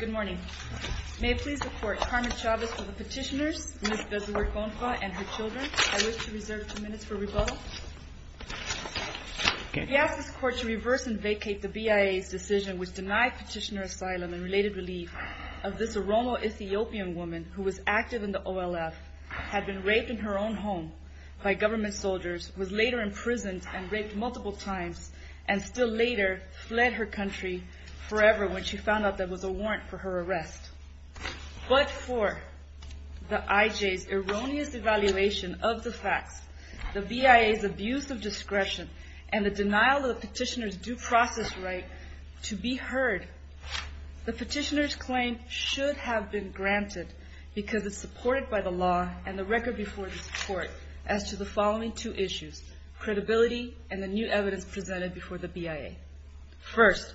Good morning. May it please the Court, Carmen Chavez for the petitioners, Ms. Bezuer-Gonfa and her children. I wish to reserve two minutes for rebuttal. We ask this Court to reverse and vacate the BIA's decision which denied petitioner asylum and related relief of this Oromo-Ethiopian woman who was active in the OLF, had been raped in her own home by government soldiers, was later imprisoned and raped multiple times, and still later fled her country forever when she found out there was a warrant for her arrest. But for the IJ's erroneous evaluation of the facts, the BIA's abuse of discretion, and the denial of the petitioner's due process right to be heard, the petitioner's claim should have been granted because it's supported by the law and the record before this Court as to the following two issues, credibility and the new evidence presented before the BIA. First,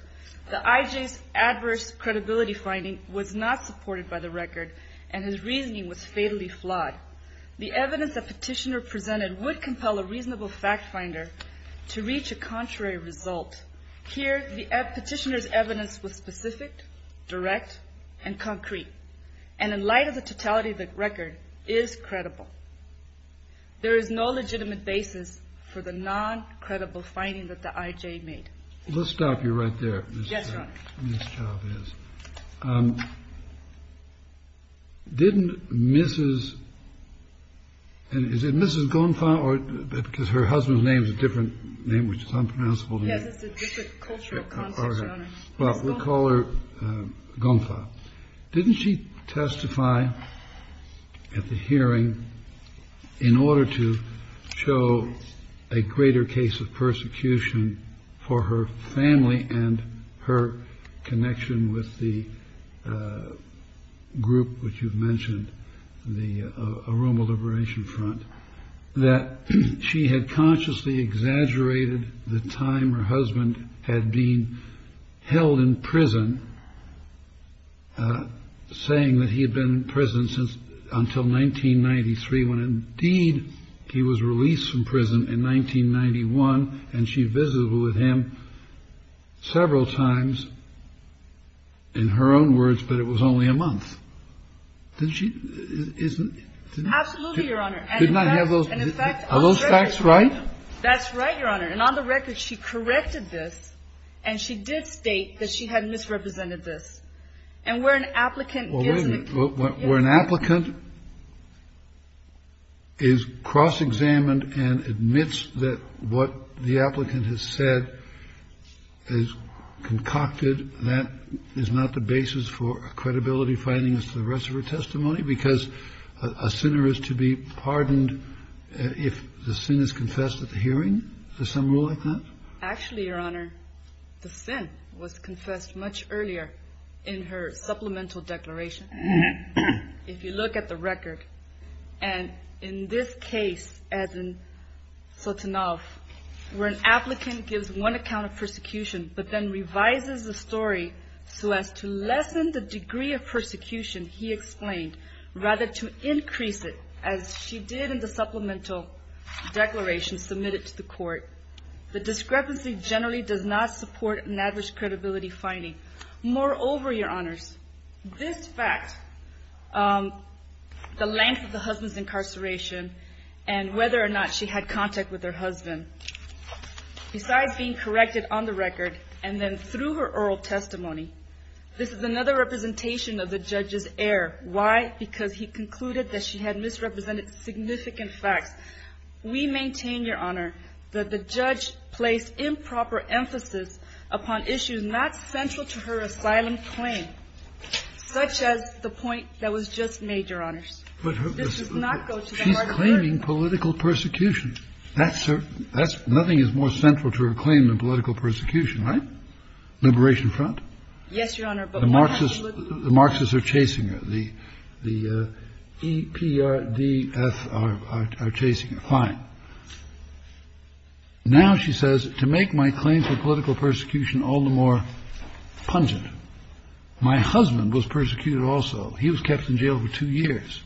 the IJ's adverse credibility finding was not supported by the record and his reasoning was fatally flawed. The evidence the petitioner presented would compel a reasonable fact finder to reach a contrary result. Here, the petitioner's evidence was specific, direct, and concrete, and in light of the totality of the record, is credible. There is no legitimate basis for the non-credible finding that the IJ made. Let's stop you right there. Yes, Your Honor. Ms. Chavez. Didn't Mrs. and is it Mrs. Gonfa, because her husband's name is a different name, which is unpronounceable to me. But we'll call her Gonfa. Didn't she testify at the hearing in order to show a greater case of persecution for her family and her connection with the group, which you've mentioned, the Aroma Liberation Front, that she had consciously exaggerated the time her husband had been held in prison, Absolutely, Your Honor. Are those facts right? That's right, Your Honor. And on the record, she corrected this, and she did state that she had misrepresented this. And where an applicant gives an account. Where an applicant is cross-examined and admits that what the applicant has said is concocted, that is not the basis for credibility findings to the rest of her testimony because a sinner is to be pardoned if the sin is confessed at the hearing? Is there some rule like that? Actually, Your Honor, the sin was confessed much earlier in her supplemental declaration. If you look at the record, and in this case, as in Sotonov, where an applicant gives one account of persecution, but then revises the story so as to lessen the degree of persecution he explained, rather to increase it, as she did in the supplemental declaration submitted to the court, the discrepancy generally does not support an average credibility finding. Moreover, Your Honors, this fact, the length of the husband's incarceration and whether or not she had contact with her husband, besides being corrected on the record and then through her oral testimony, this is another representation of the judge's error. Why? Because he concluded that she had misrepresented significant facts. We maintain, Your Honor, that the judge placed improper emphasis upon issues not central to her asylum claim, such as the point that was just made, Your Honors. She's claiming political persecution. Nothing is more central to her claim than political persecution, right? Liberation Front? Yes, Your Honor. The Marxists are chasing her. The the EPRDF are chasing her. Fine. Now, she says, to make my claim for political persecution all the more pungent. My husband was persecuted also. He was kept in jail for two years.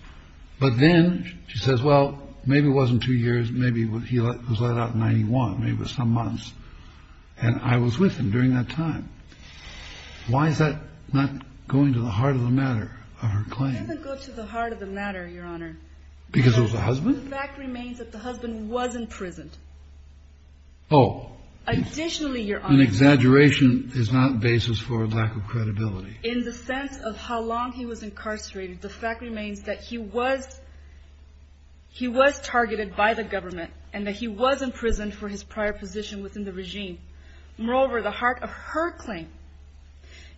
But then she says, well, maybe it wasn't two years. Maybe he was let out in 91, maybe some months. And I was with him during that time. Why is that not going to the heart of the matter of her claim? It doesn't go to the heart of the matter, Your Honor. Because it was a husband? The fact remains that the husband was imprisoned. Oh. Additionally, Your Honor. An exaggeration is not basis for lack of credibility. In the sense of how long he was incarcerated, the fact remains that he was targeted by the government and that he was imprisoned for his prior position within the regime. Moreover, the heart of her claim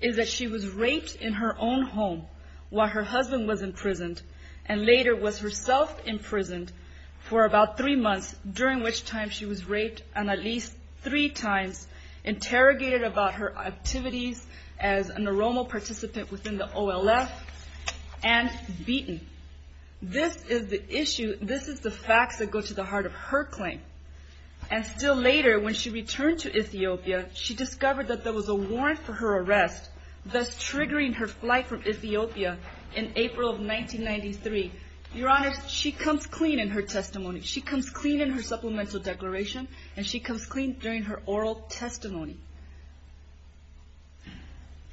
is that she was raped in her own home while her husband was imprisoned. And later was herself imprisoned for about three months, during which time she was raped at least three times. Interrogated about her activities as a neuroma participant within the OLF. And beaten. This is the issue. This is the facts that go to the heart of her claim. And still later, when she returned to Ethiopia, she discovered that there was a warrant for her arrest, thus triggering her flight from Ethiopia in April of 1993. Your Honor, she comes clean in her testimony. She comes clean in her supplemental declaration. And she comes clean during her oral testimony.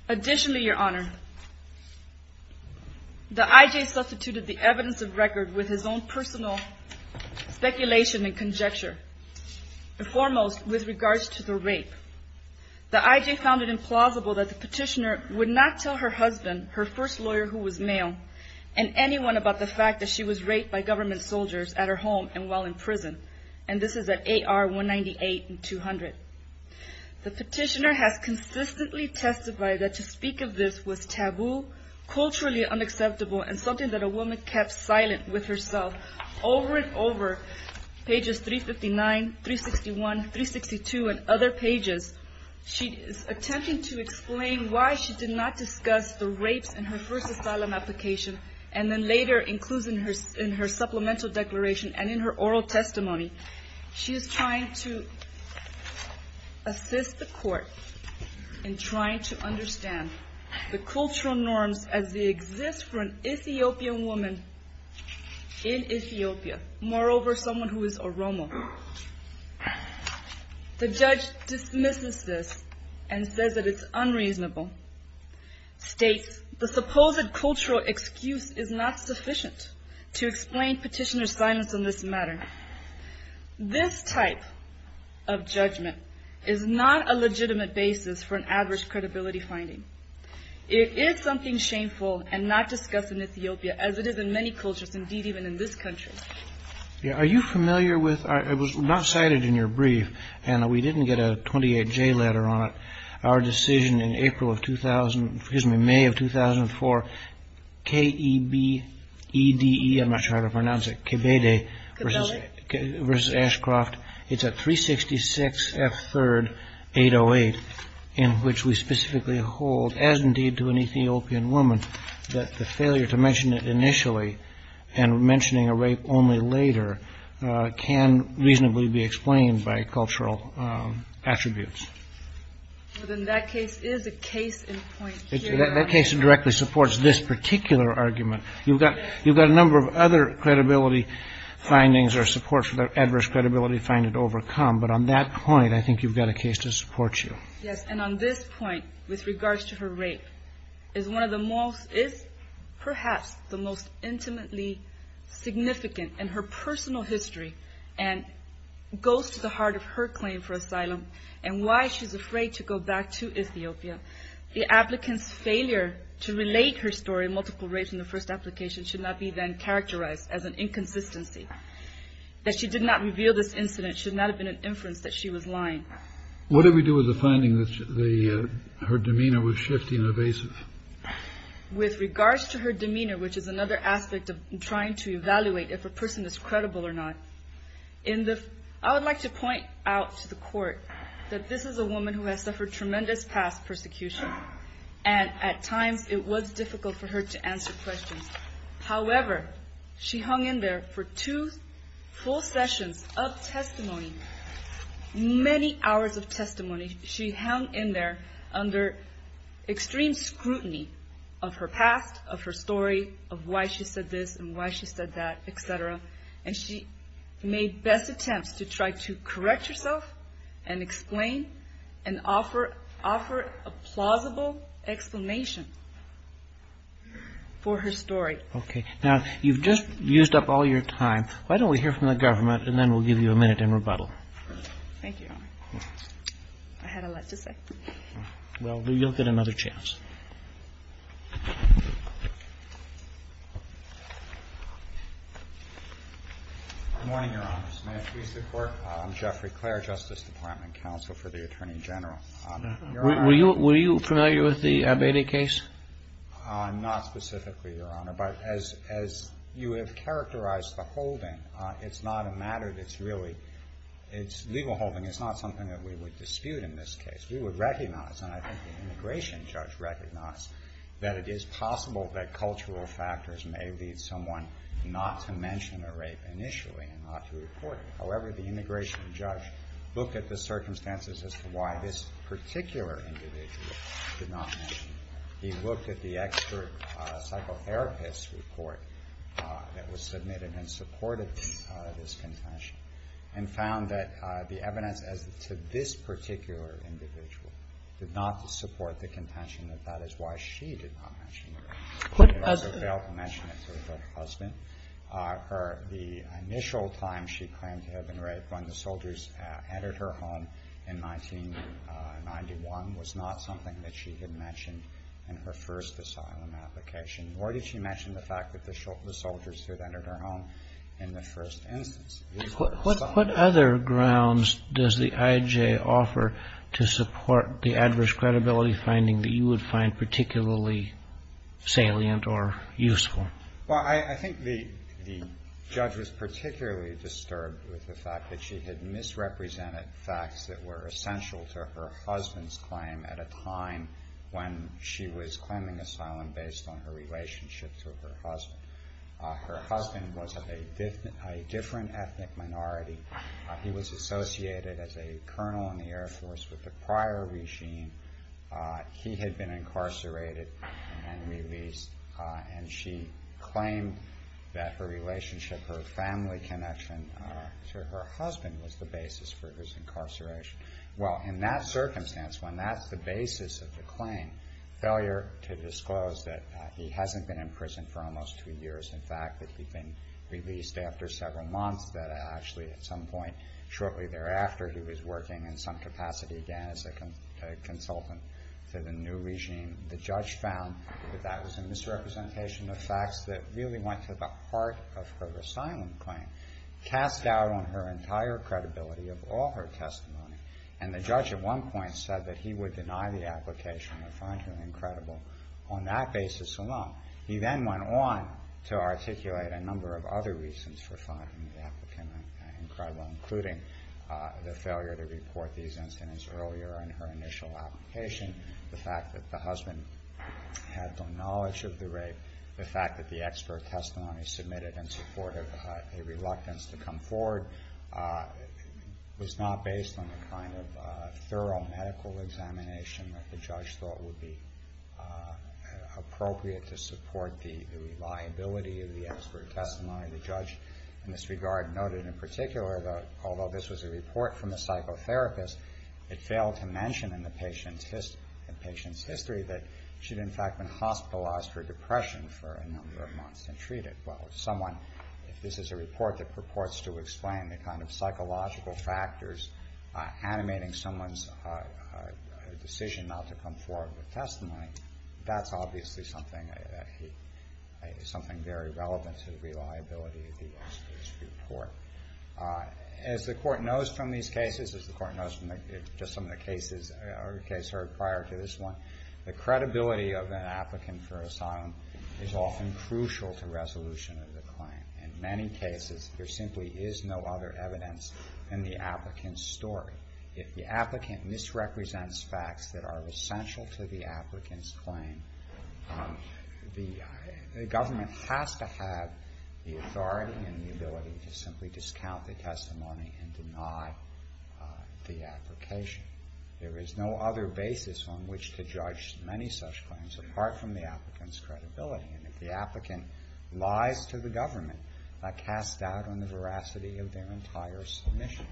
Additionally, Your Honor. The I.J. substituted the evidence of record with his own personal speculation and conjecture. Foremost, with regards to the rape. The I.J. found it implausible that the petitioner would not tell her husband, her first lawyer who was male, and anyone about the fact that she was raped by government soldiers at her home and while in prison. And this is at AR 198 and 200. The petitioner has consistently testified that to speak of this was taboo, culturally unacceptable, and something that a woman kept silent with herself over and over. Pages 359, 361, 362, and other pages. She is attempting to explain why she did not discuss the rapes in her first asylum application. And then later, includes in her supplemental declaration and in her oral testimony. She is trying to assist the court in trying to understand the cultural norms as they exist for an Ethiopian woman in Ethiopia. Moreover, someone who is a Roma. The judge dismisses this and says that it's unreasonable. States the supposed cultural excuse is not sufficient to explain petitioner's silence on this matter. This type of judgment is not a legitimate basis for an adverse credibility finding. It is something shameful and not discussed in Ethiopia as it is in many cultures, indeed even in this country. Are you familiar with, it was not cited in your brief, and we didn't get a 28J letter on it, our decision in April of 2000, excuse me, May of 2004, K-E-B-E-D-E, I'm not sure how to pronounce it, Kebede versus Ashcroft. It's a 366 F third 808 in which we specifically hold, as indeed to an Ethiopian woman, that the failure to mention it initially and mentioning a rape only later can reasonably be explained by cultural attributes. Well then that case is a case in point here. That case directly supports this particular argument. You've got a number of other credibility findings or support for the adverse credibility finding to overcome, but on that point I think you've got a case to support you. Yes, and on this point, with regards to her rape, is one of the most, is perhaps the most intimately significant in her personal history and goes to the heart of her claim for asylum and why she's afraid to go back to Ethiopia. The applicant's failure to relate her story, multiple rapes in the first application, should not be then characterized as an inconsistency. That she did not reveal this incident should not have been an inference that she was lying. What did we do with the finding that her demeanor was shifty and evasive? With regards to her demeanor, which is another aspect of trying to evaluate if a person is credible or not, I would like to point out to the court that this is a woman who has suffered tremendous past persecution and at times it was difficult for her to answer questions. However, she hung in there for two full sessions of testimony, many hours of testimony. She hung in there under extreme scrutiny of her past, of her story, of why she said this and why she said that, et cetera. And she made best attempts to try to correct herself and explain and offer a plausible explanation for her story. Okay, now you've just used up all your time. Why don't we hear from the government and then we'll give you a minute in rebuttal. Thank you, Your Honor. I had a lot to say. Well, you'll get another chance. Good morning, Your Honors. May it please the Court. I'm Jeffrey Clair, Justice Department Counsel for the Attorney General. Your Honor. Were you familiar with the Abedi case? Not specifically, Your Honor. But as you have characterized the holding, it's not a matter that's really legal holding. It's not something that we would dispute in this case. We would recognize, and I think the immigration judge recognized, that it is possible that cultural factors may lead someone not to mention a rape initially and not to report it. However, the immigration judge looked at the circumstances as to why this particular individual did not mention it. He looked at the expert psychotherapist report that was submitted and supported this contention and found that the evidence as to this particular individual did not support the contention that that is why she did not mention it. She also failed to mention it to her husband. The initial time she claimed to have been raped, when the soldiers entered her home in 1991, was not something that she had mentioned in her first asylum application, nor did she mention the fact that the soldiers had entered her home in the first instance. What other grounds does the IJ offer to support the adverse credibility finding that you would find particularly salient or useful? Well, I think the judge was particularly disturbed with the fact that she had misrepresented facts that were essential to her husband's claim at a time when she was claiming asylum based on her relationship to her husband. Her husband was a different ethnic minority. He was associated as a colonel in the Air Force with the prior regime. He had been incarcerated and released, and she claimed that her relationship, her family connection to her husband was the basis for his incarceration. Well, in that circumstance, when that's the basis of the claim, to disclose that he hasn't been in prison for almost two years, in fact that he'd been released after several months, that actually at some point shortly thereafter he was working in some capacity again as a consultant to the new regime, the judge found that that was a misrepresentation of facts that really went to the heart of her asylum claim, cast doubt on her entire credibility of all her testimony. And the judge at one point said that he would deny the application or find her incredible on that basis alone. He then went on to articulate a number of other reasons for finding the applicant incredible, including the failure to report these incidents earlier in her initial application, the fact that the husband had no knowledge of the rape, the fact that the expert testimony submitted in support of a reluctance to come forward was not based on the kind of thorough medical examination that the judge thought would be appropriate to support the reliability of the expert testimony. The judge in this regard noted in particular that although this was a report from a psychotherapist, it failed to mention in the patient's history that she'd in fact been hospitalized for depression for a number of months and treated. Well, if someone, if this is a report that purports to explain the kind of psychological factors animating someone's decision not to come forward with testimony, that's obviously something very relevant to the reliability of the expert's report. As the court knows from these cases, as the court knows from just some of the cases or the case heard prior to this one, the credibility of an applicant for asylum is often crucial to resolution of the claim. In many cases, there simply is no other evidence than the applicant's story. If the applicant misrepresents facts that are essential to the applicant's claim, the government has to have the authority and the ability to simply discount the testimony and deny the application. There is no other basis on which to judge many such claims apart from the applicant's credibility. And if the applicant lies to the government, that casts doubt on the veracity of their entire submission.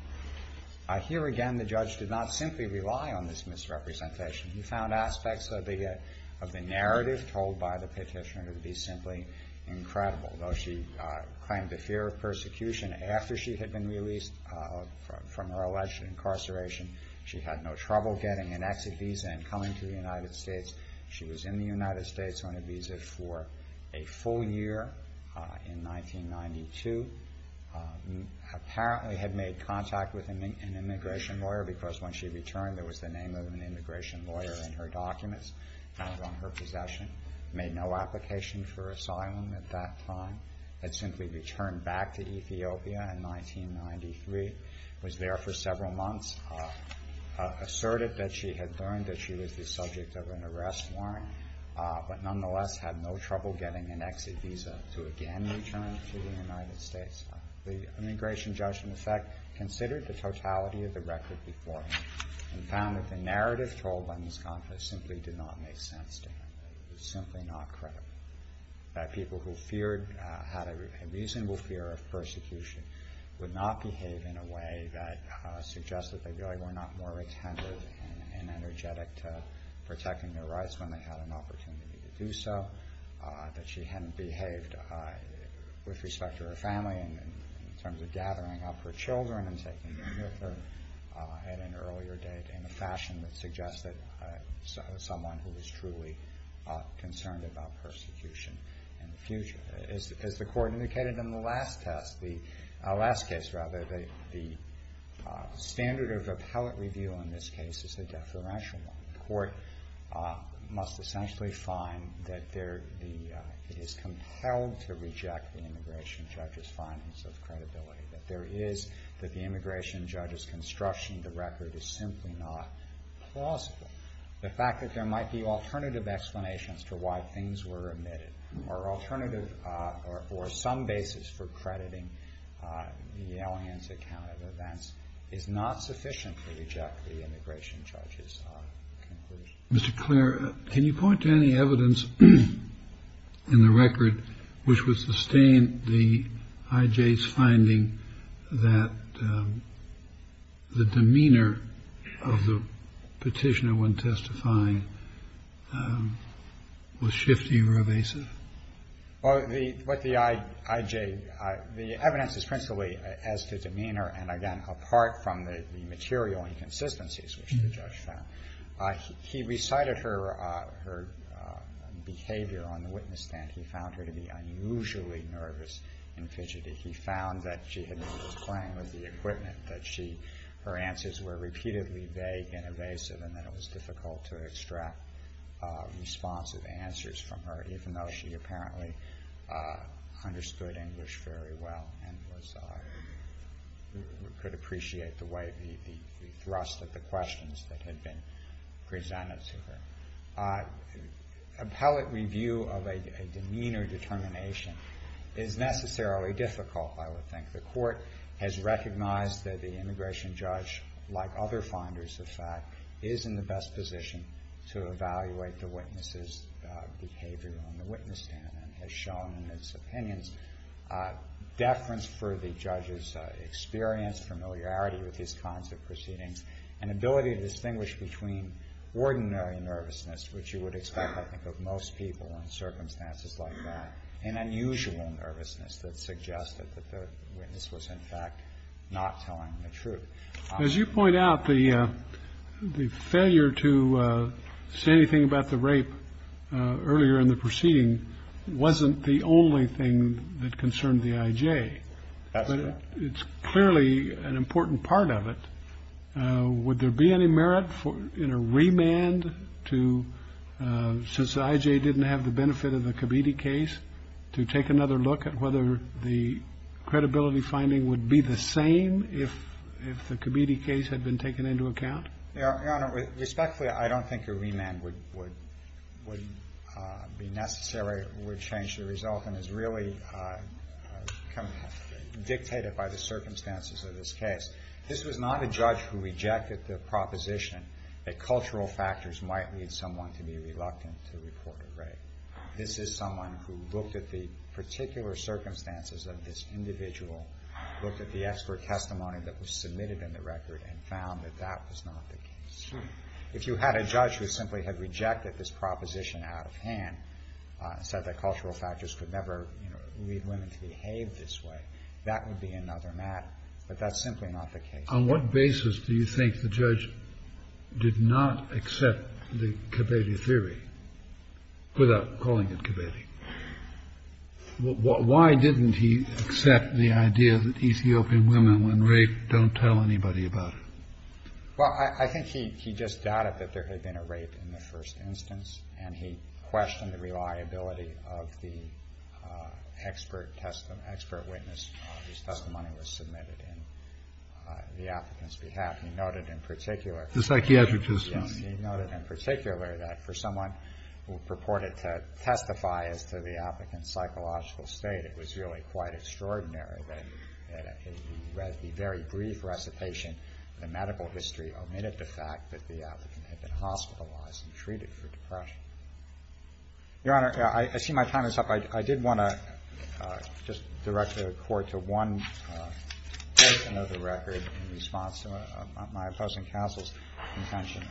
Here again, the judge did not simply rely on this misrepresentation. He found aspects of the narrative told by the petitioner to be simply incredible. Though she claimed the fear of persecution after she had been released from her alleged incarceration, she had no trouble getting an exit visa and coming to the United States. She was in the United States on a visa for a full year in 1992. Apparently had made contact with an immigration lawyer because when she returned, there was the name of an immigration lawyer in her documents found on her possession. Made no application for asylum at that time. Had simply returned back to Ethiopia in 1993. Was there for several months. Asserted that she had learned that she was the subject of an arrest warrant, but nonetheless had no trouble getting an exit visa to again return to the United States. The immigration judge, in effect, considered the totality of the record beforehand and found that the narrative told by Ms. Contra simply did not make sense to him. It was simply not credible. That people who feared, had a reasonable fear of persecution, would not behave in a way that suggested they really were not more attentive and energetic to protecting their rights when they had an opportunity to do so. That she hadn't behaved with respect to her family in terms of gathering up her children and taking them with her at an earlier date in a fashion that suggested someone who was truly concerned about persecution in the future. As the court indicated in the last case, the standard of appellate review in this case is a deferential one. The court must essentially find that it is compelled to reject the immigration judge's findings of credibility. That the immigration judge's construction of the record is simply not plausible. The fact that there might be alternative explanations to why things were omitted or alternative or some basis for crediting the Allianz account of events is not sufficient to reject the immigration judge's conclusion. Mr. Clare, can you point to any evidence in the record which would sustain the IJ's finding that the demeanor of the petitioner when testifying was shifty or evasive? The evidence is principally as to demeanor and again apart from the material inconsistencies which the judge found. He recited her behavior on the witness stand. He found her to be unusually nervous and fidgety. He found that she had been playing with the equipment, that her answers were repeatedly vague and evasive and that it was difficult to extract responsive answers from her even though she apparently understood English very well and could appreciate the thrust of the questions that had been presented to her. Appellate review of a demeanor determination is necessarily difficult, I would think. The court has recognized that the immigration judge, like other finders of fact, is in the best position to evaluate the witness's behavior on the witness stand and has shown in its opinions deference for the judge's experience, familiarity with these kinds of proceedings and ability to distinguish between ordinary nervousness, which you would expect I think of most people in circumstances like that, and unusual nervousness that suggested that the witness was in fact not telling the truth. As you point out, the failure to say anything about the rape earlier in the proceeding wasn't the only thing that concerned the IJ. That's right. It's clearly an important part of it. Would there be any merit in a remand to, since the IJ didn't have the benefit of the Comedie case, to take another look at whether the credibility finding would be the same if the Comedie case had been taken into account? Your Honor, respectfully, I don't think a remand would be necessary. It would change the result and is really dictated by the circumstances of this case. This was not a judge who rejected the proposition that cultural factors might lead someone to be reluctant to report a rape. This is someone who looked at the particular circumstances of this individual, looked at the expert testimony that was submitted in the record, and found that that was not the case. If you had a judge who simply had rejected this proposition out of hand and said that cultural factors could never lead women to behave this way, that would be another matter. But that's simply not the case. On what basis do you think the judge did not accept the Comedie theory without calling it Comedie? Why didn't he accept the idea that Ethiopian women, when raped, don't tell anybody about it? Well, I think he just doubted that there had been a rape in the first instance, and he questioned the reliability of the expert witness whose testimony was submitted in the applicant's behalf. He noted in particular that for someone who purported to testify as to the applicant's psychological state, it was really quite extraordinary that he read the very brief recitation of the medical history omitted the fact that the applicant had been hospitalized and treated for depression. Your Honor, I see my time is up. I did want to just direct the Court to one portion of the record in response to my opposing counsel's contention.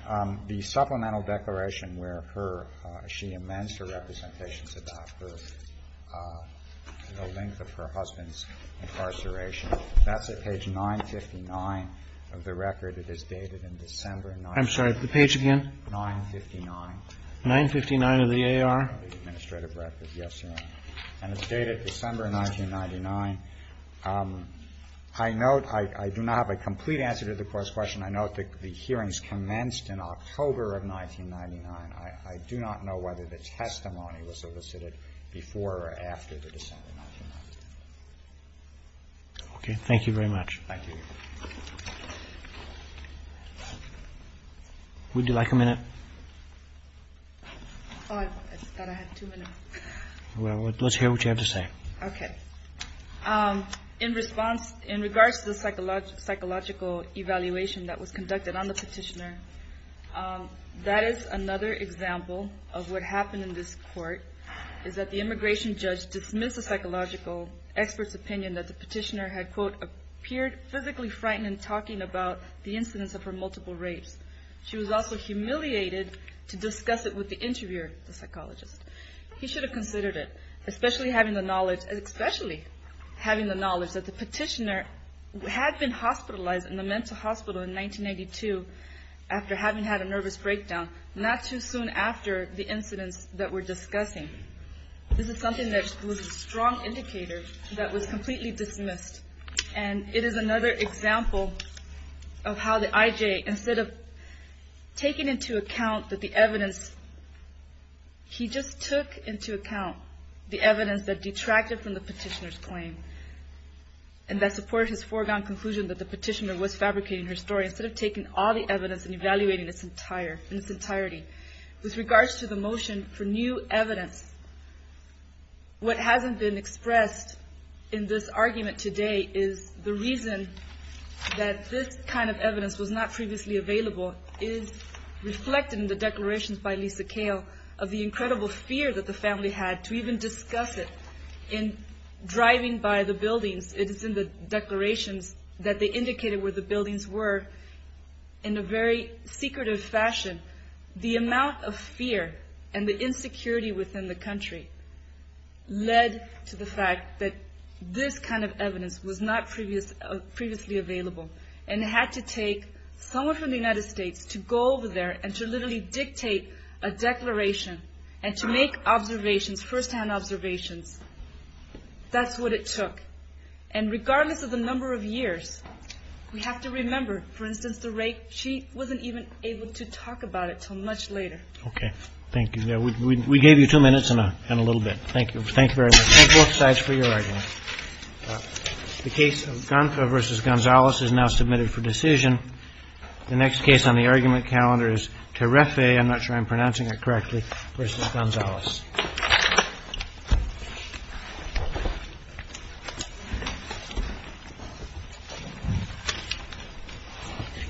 The supplemental declaration where her ‑‑ she amends her representations about her ‑‑ the length of her husband's incarceration. That's at page 959 of the record. It is dated in December 1999. I'm sorry. The page again? 959. 959 of the AR? Administrative record. Yes, Your Honor. And it's dated December 1999. I note I do not have a complete answer to the Court's question. I note that the hearings commenced in October of 1999. I do not know whether the testimony was solicited before or after the December 1999. Okay. Thank you very much. Thank you. Would you like a minute? Oh, I thought I had two minutes. Well, let's hear what you have to say. Okay. In response, in regards to the psychological evaluation that was conducted on the petitioner, that is another example of what happened in this Court, is that the immigration judge dismissed the psychological expert's opinion that the petitioner had, quote, appeared physically frightened in talking about the incidents of her multiple rapes. She was also humiliated to discuss it with the interviewer, the psychologist. He should have considered it, especially having the knowledge that the petitioner had been hospitalized in the mental hospital in 1992 after having had a nervous breakdown, not too soon after the incidents that we're discussing. This is something that was a strong indicator that was completely dismissed. And it is another example of how the I.J., instead of taking into account that the evidence he just took into account the evidence that detracted from the petitioner's claim, and that supported his foregone conclusion that the petitioner was fabricating her story, instead of taking all the evidence and evaluating its entirety. With regards to the motion for new evidence, what hasn't been expressed in this argument today is the reason that this kind of evidence was not previously available is reflected in the declarations by Lisa Kale of the incredible fear that the family had to even discuss it in driving by the buildings. It is in the declarations that they indicated where the buildings were in a very secretive fashion. The amount of fear and the insecurity within the country led to the fact that this kind of evidence was not previously available and had to take someone from the United States to go over there and to literally dictate a declaration and to make observations, first-hand observations. That's what it took. And regardless of the number of years, we have to remember, for instance, Mr. Rake, she wasn't even able to talk about it until much later. Okay. Thank you. We gave you two minutes and a little bit. Thank you. Thank you very much. Thank both sides for your argument. The case of Gonza versus Gonzales is now submitted for decision. The next case on the argument calendar is Terefe, I'm not sure I'm pronouncing it correctly, versus Gonzales.